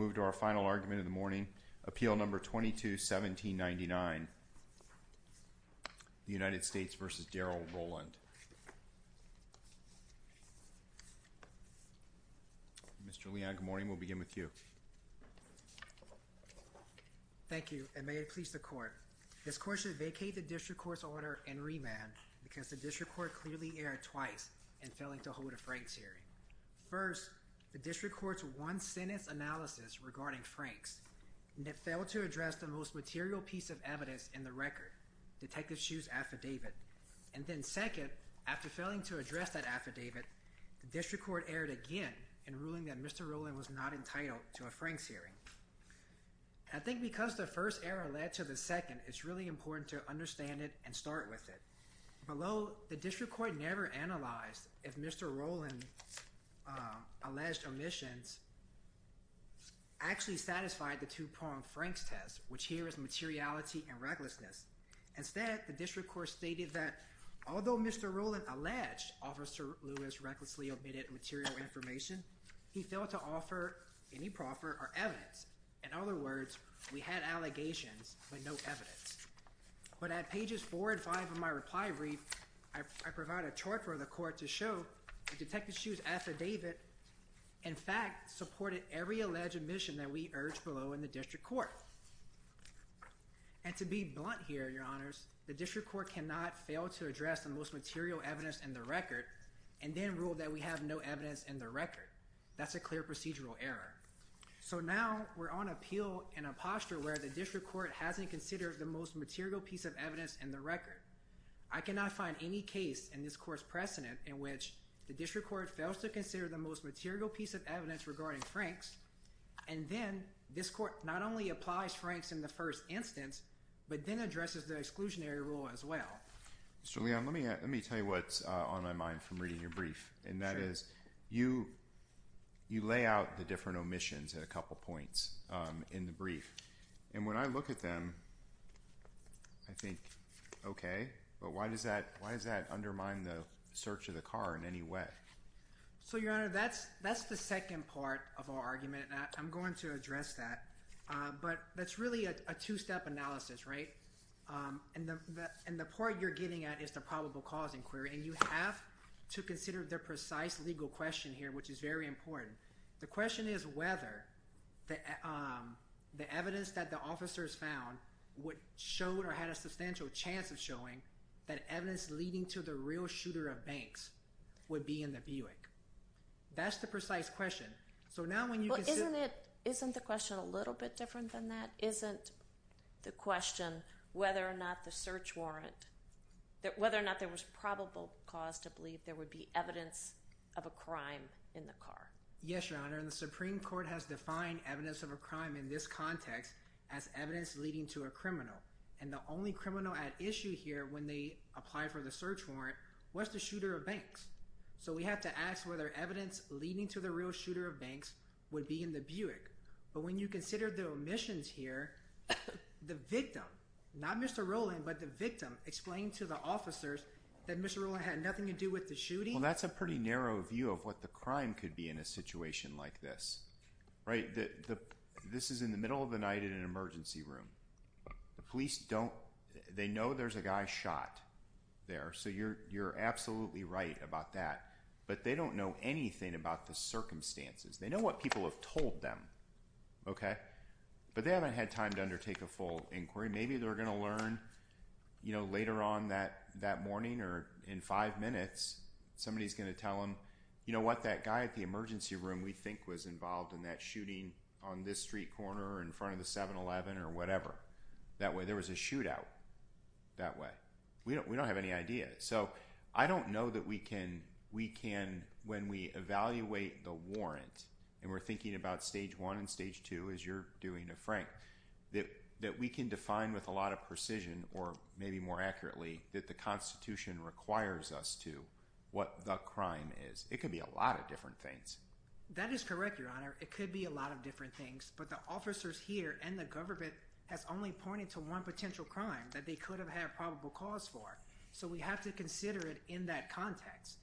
Mr. Leon, good morning. We'll begin with you. Thank you, and may it please the court. This court should vacate the district court's order and remand because the district court clearly erred twice in failing to hold a Franks hearing. First, the district court's one-sentence analysis regarding Franks, and it failed to address the most material piece of evidence in the record, Detective Hsu's affidavit. And then second, after failing to address that affidavit, the district court erred again in ruling that Mr. Roland was not entitled to a Franks hearing. I think because the first error led to the second, it's really important to understand it and start with it. Although the district court never analyzed if Mr. Roland's alleged omissions actually satisfied the two-pronged Franks test, which here is materiality and recklessness. Instead, the district court stated that although Mr. Roland alleged Officer Lewis recklessly omitted material information, he failed to offer any proffer or evidence. In other words, we had allegations but no evidence. But at pages four and five of my reply brief, I provide a chart for the court to show that Detective Hsu's affidavit, in fact, supported every alleged omission that we urged below in the district court. And to be blunt here, your honors, the district court cannot fail to address the most material evidence in the record and then rule that we have no evidence in the record. That's a clear procedural error. So now we're on appeal in a posture where the district court hasn't considered the most material piece of evidence in the record. I cannot find any case in this court's precedent in which the district court fails to consider the most material piece of evidence regarding Franks and then this court not only applies Franks in the first instance but then addresses the exclusionary rule as well. Mr. Leon, let me tell you what's on my mind from reading your brief. And that is, you lay out the different omissions at a couple points in the brief. And when I look at them, I think, okay, but why does that undermine the search of the car in any way? So, your honor, that's the second part of our argument. I'm going to address that. But that's really a two-step analysis, right? And the point you're getting at is the probable cause inquiry. And you have to consider the precise legal question here, which is very important. The question is whether the evidence that the officers found would show or had a substantial chance of showing that evidence leading to the real shooter of Banks would be in the Buick. That's the precise question. So, now, when you consider... Isn't the question a little bit different than that? Isn't the question whether or not the search warrant, whether or not there was probable cause to believe there would be evidence of a crime in the car? Yes, your honor. And the Supreme Court has defined evidence of a context as evidence leading to a criminal. And the only criminal at issue here when they apply for the search warrant was the shooter of Banks. So, we have to ask whether evidence leading to the real shooter of Banks would be in the Buick. But when you consider the omissions here, the victim, not Mr. Rowland, but the victim explained to the officers that Mr. Rowland had nothing to do with the shooting. Well, that's a pretty narrow view of what the crime could be in a situation like this, right? This is in the middle of the night in an emergency room. The police don't... They know there's a guy shot there. So, you're absolutely right about that. But they don't know anything about the circumstances. They know what people have told them, okay? But they haven't had time to undertake a full inquiry. Maybe they're gonna learn, you know, later on that morning or in five minutes, somebody's gonna tell them, you know what, that guy at the emergency room we think was involved in that shooting on this street corner in front of the 7-Eleven or whatever. That way, there was a shootout that way. We don't have any idea. So, I don't know that we can, when we evaluate the warrant, and we're thinking about stage one and stage two as you're doing a Frank, that we can define with a lot of precision or maybe more accurately that the Constitution requires us to what the crime is. It could be a lot of different things. That is correct, Your Honor. It could be a lot of different things. But the officers here and the government has only pointed to one potential crime that they could have had probable cause for. So, we have to consider it in that context.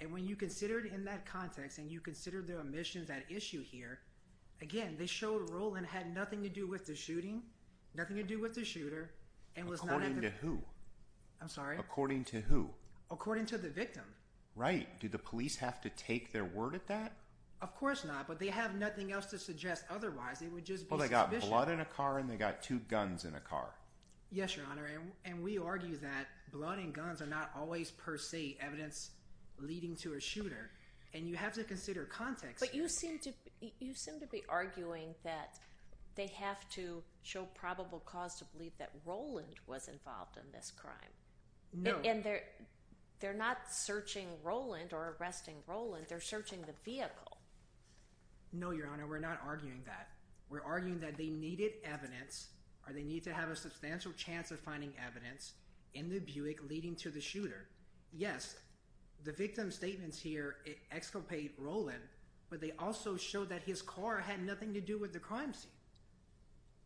And when you consider it in that context and you consider the omissions at issue here, again, they showed a role and had nothing to do with the shooting, nothing to do with the shooter. According to who? I'm sorry? According to who? According to the victim. Right. Did the police have to take their word at that? Of course not. But they have nothing else to suggest otherwise. They would just be suspicious. Well, they got blood in a car and they got two guns in a car. Yes, Your Honor. And we argue that blood and guns are not always per se evidence leading to a shooter. And you have to consider context. But you seem to be arguing that they have to show probable cause to believe that Roland was involved in this crime. No. And they're not searching Roland or arresting Roland. They're searching the vehicle. No, Your Honor. We're not arguing that. We're arguing that they needed evidence or they need to have a substantial chance of finding evidence in the Buick leading to the shooter. Yes, the victim's statements here exculpate Roland, but they also show that his car had nothing to do with the crime scene.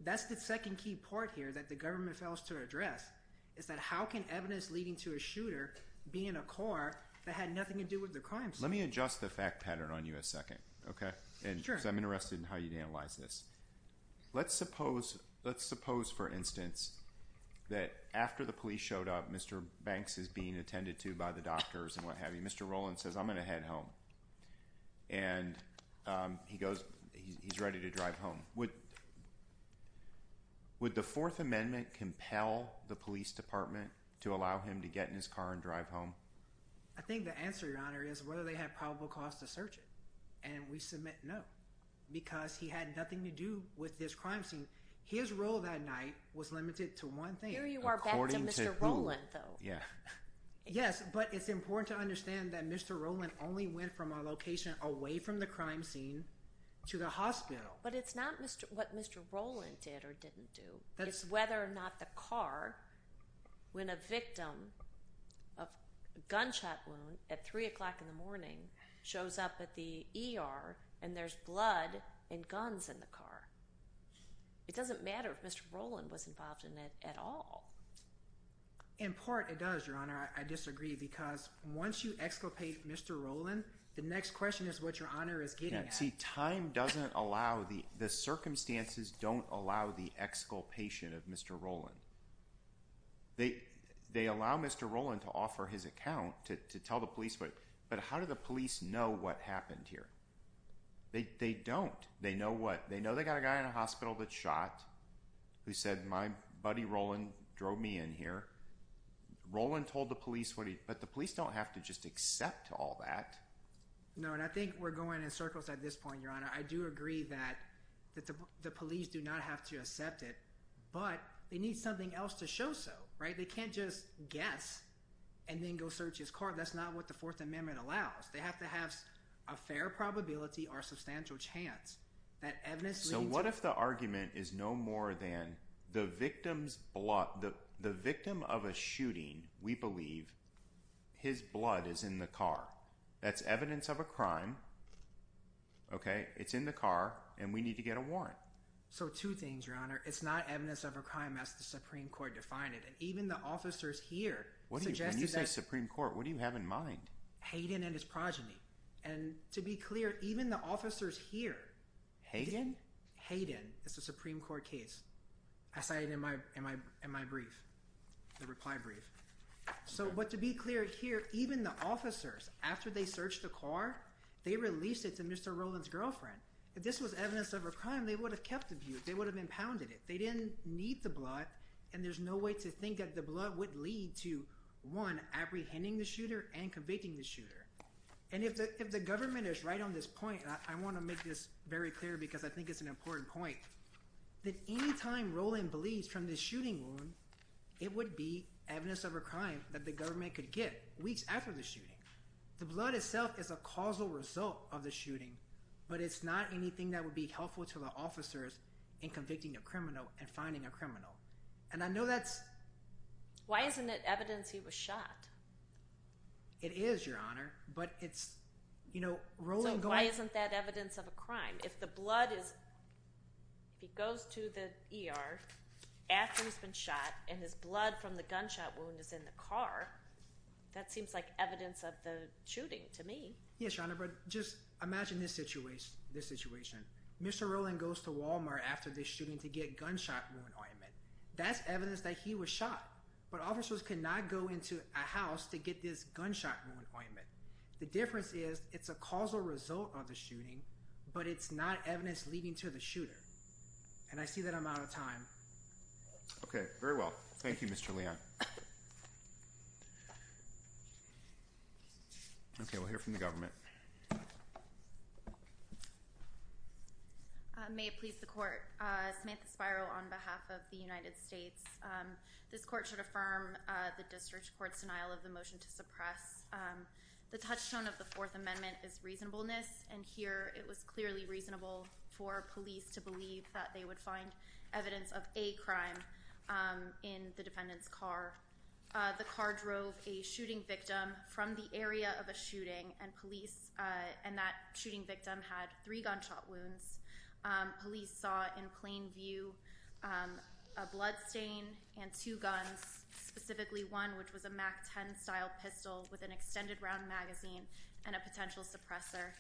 That's the second key part here that the government fails to address, is that how can evidence leading to a shooter be in a car that had nothing to do with the crime scene? Let me adjust the fact pattern on you a second, okay? Sure. Because I'm interested in how you'd analyze this. Let's suppose, let's suppose, for instance, that after the police showed up, Mr. Banks is being attended to by the doctors and what he's doing is he's driving home. And he goes, he's ready to drive home. Would the Fourth Amendment compel the police department to allow him to get in his car and drive home? I think the answer, Your Honor, is whether they have probable cause to search it. And we submit no, because he had nothing to do with this crime scene. His role that night was limited to one thing. Here you are back to Mr. Roland, though. Yes, but it's important to understand that Mr. Roland only went from a location away from the crime scene to the hospital. But it's not what Mr. Roland did or didn't do. It's whether or not the car, when a victim of a gunshot wound at 3 o'clock in the morning, shows up at the ER and there's blood and guns in the car. It doesn't matter if I disagree, because once you exculpate Mr. Roland, the next question is what Your Honor is getting at. See, time doesn't allow, the circumstances don't allow the exculpation of Mr. Roland. They allow Mr. Roland to offer his account to tell the police, but how do the police know what happened here? They don't. They know what, they know they got a guy in a hospital that shot, who said, my buddy Roland drove me in here. Roland told the police what he, but the police don't have to just accept all that. No, and I think we're going in circles at this point, Your Honor. I do agree that the police do not have to accept it, but they need something else to show so, right? They can't just guess and then go search his car. That's not what the Fourth Amendment allows. They have to have a fair probability or So what if the argument is no more than the victim's blood, the victim of a shooting, we believe, his blood is in the car. That's evidence of a crime, okay? It's in the car and we need to get a warrant. So two things, Your Honor. It's not evidence of a crime as the Supreme Court defined it and even the officers here suggested that... When you say Supreme Court, what do you have in Hayden? It's a Supreme Court case. I cited it in my brief, the reply brief. So, but to be clear here, even the officers, after they searched the car, they released it to Mr. Roland's girlfriend. If this was evidence of a crime, they would have kept the view. They would have impounded it. They didn't need the blood and there's no way to think that the blood would lead to, one, apprehending the shooter and convicting the shooter. And if the government is right on this point, I want to make this very important point, that any time Roland bleeds from this shooting wound, it would be evidence of a crime that the government could get weeks after the shooting. The blood itself is a causal result of the shooting, but it's not anything that would be helpful to the officers in convicting a criminal and finding a criminal. And I know that's... Why isn't it evidence he was shot? It is, Your Honor, but it's, you know, Roland going... So why isn't that evidence of a crime? If the blood is, if he goes to the ER after he's been shot and his blood from the gunshot wound is in the car, that seems like evidence of the shooting to me. Yes, Your Honor, but just imagine this situation, this situation. Mr. Roland goes to Walmart after the shooting to get gunshot wound ointment. That's evidence that he was The difference is, it's a causal result of the shooting, but it's not evidence leading to the shooter. And I see that I'm out of time. Okay, very well. Thank you, Mr. Leon. Okay, we'll hear from the government. May it please the court. Samantha Spiro on behalf of the United States. This court should affirm the district court's denial of the touchstone of the Fourth Amendment is reasonableness. And here it was clearly reasonable for police to believe that they would find evidence of a crime in the defendant's car. The car drove a shooting victim from the area of a shooting and police and that shooting victim had three gunshot wounds. Police saw in plain view a bloodstain and two guns, specifically one which was a MAC-10 style pistol with an extended round magazine and a potential suppressor.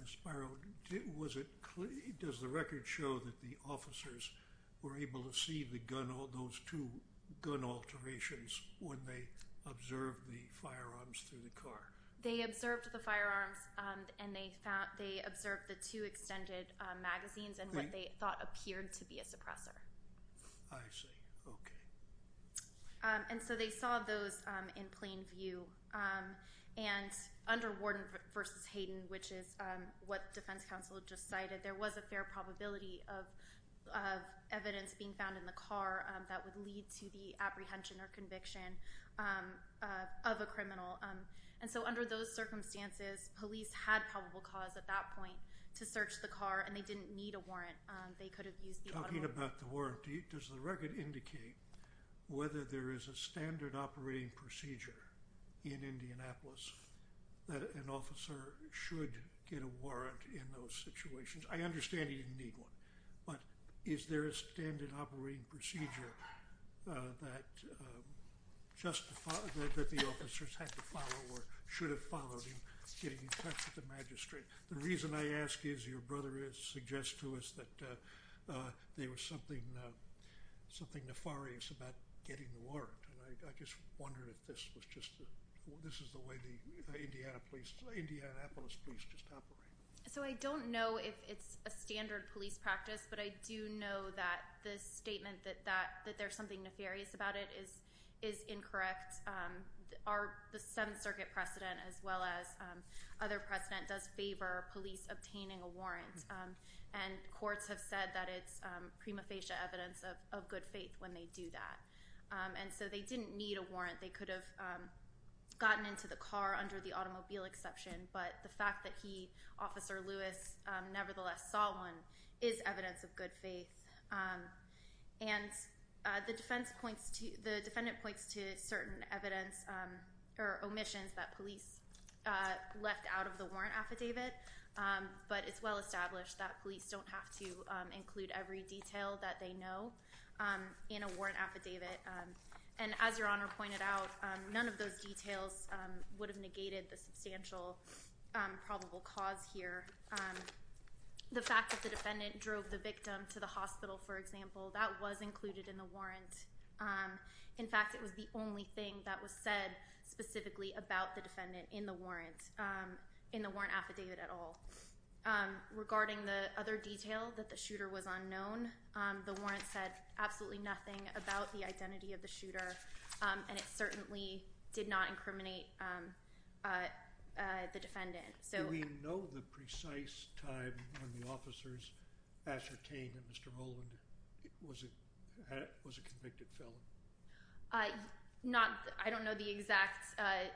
Ms. Spiro, does the record show that the officers were able to see those two gun alterations when they observed the firearms through the car? They observed the firearms and they observed the two extended magazines and what they thought appeared to be a suppressor. I see. Okay. And so they saw those in plain view. And under Warden v. Hayden, which is what Defense Counsel just cited, there was a fair probability of evidence being found in the car that would lead to the apprehension or conviction of a criminal. And so under those circumstances, police had probable cause at that point to search the car and they didn't need a warrant. They could have used talking about the warrant. Does the record indicate whether there is a standard operating procedure in Indianapolis that an officer should get a warrant in those situations? I understand you didn't need one, but is there a standard operating procedure that the officers had to follow or should have followed in getting in touch with the magistrate? The reason I ask is your brother has suggested to us that there was something nefarious about getting the warrant. I just wondered if this was just, this is the way the Indianapolis police just operate. So I don't know if it's a standard police practice, but I do know that the statement that there's something nefarious about it is incorrect. The Seventh Circuit precedent, as well as other precedent, does favor police obtaining a warrant. And courts have said that it's prima facie evidence of good faith when they do that. And so they didn't need a warrant. They could have gotten into the car under the automobile exception, but the fact that he, Officer Lewis, nevertheless saw one is evidence of good faith. And the defense points to, the defendant points to certain evidence or omissions that police left out of the warrant affidavit. But it's well established that police don't have to include every detail that they know in a warrant affidavit. And as your Honor pointed out, none of those details would have negated the substantial probable cause here. The fact that the defendant drove the victim to the hospital, for example, that was included in the warrant. In fact, it was the only thing that was said specifically about the defendant in the warrant, in the warrant affidavit at all. Regarding the other detail that the shooter was unknown, the warrant said absolutely nothing about the identity of the shooter, and it certainly did not incriminate the defendant. Do we know the precise time when the officers ascertained that Mr. Rowland was a convicted felon? Not, I don't know the exact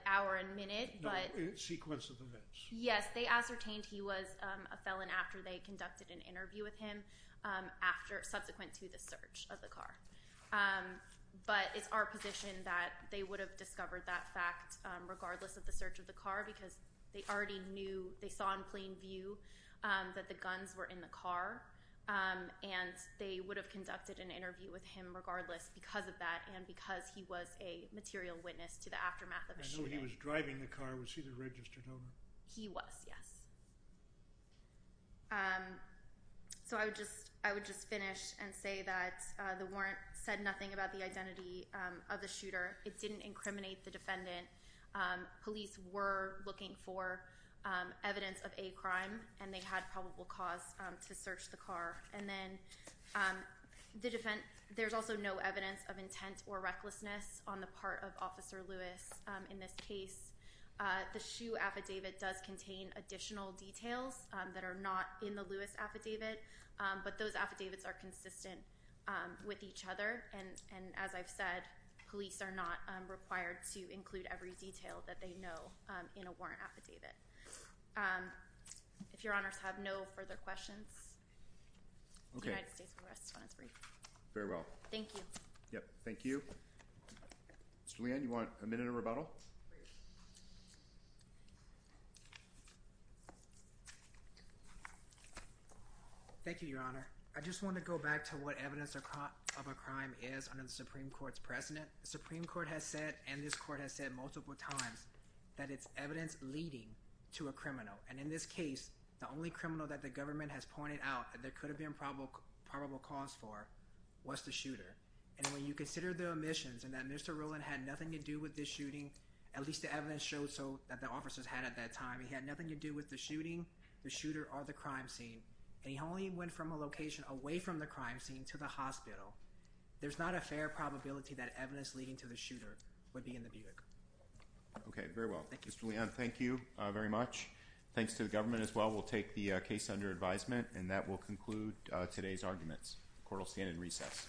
hour and minute, but... Sequence of events. Yes, they ascertained he was a felon after they conducted an interview with him, subsequent to the search of the car. But it's our position that they would have discovered that fact, regardless of the search of the car, because they already knew, they saw in plain view, that the guns were in the car, and they would have conducted an interview with him regardless, because of that, and because he was a material witness to the aftermath of the shooting. I know he was driving the car. Was he the registered owner? He was, yes. So I would just finish and say that the warrant said nothing about the identity of the shooter, it didn't incriminate the defendant, police were looking for evidence of a crime, and they had probable cause to search the car, and then, there's also no evidence of intent or recklessness on the part of Officer Lewis in this case. The SHU affidavit does contain additional details that are not in the Lewis affidavit, but those affidavits are consistent with each other, and as I've said, police are not required to include every detail that they know in a warrant affidavit. If your honors have no further questions, the United States will rest when it's brief. Very well. Thank you. Yep, thank you. Thank you, your honor. I just want to go back to what evidence of a crime is under the Supreme Court's precedent. The Supreme Court has said, and this court has said multiple times, that it's evidence leading to a criminal, and in this case, the only criminal that the government has pointed out that there could have been probable cause for was the shooter. And when you consider the omissions, and that Mr. Rowland had nothing to do with this shooting, at least the evidence showed so that the officers had at that time, he had nothing to do with the shooting, the shooter, or the crime scene, and he only went from a location away from the crime scene to the hospital. There's not a fair probability that evidence leading to the shooter would be in the bureau. Okay, very well. Mr. Leon, thank you very much. Thanks to the government as well. We'll take the case under advisement, and that will conclude today's arguments. Court will stand in recess. Thank you.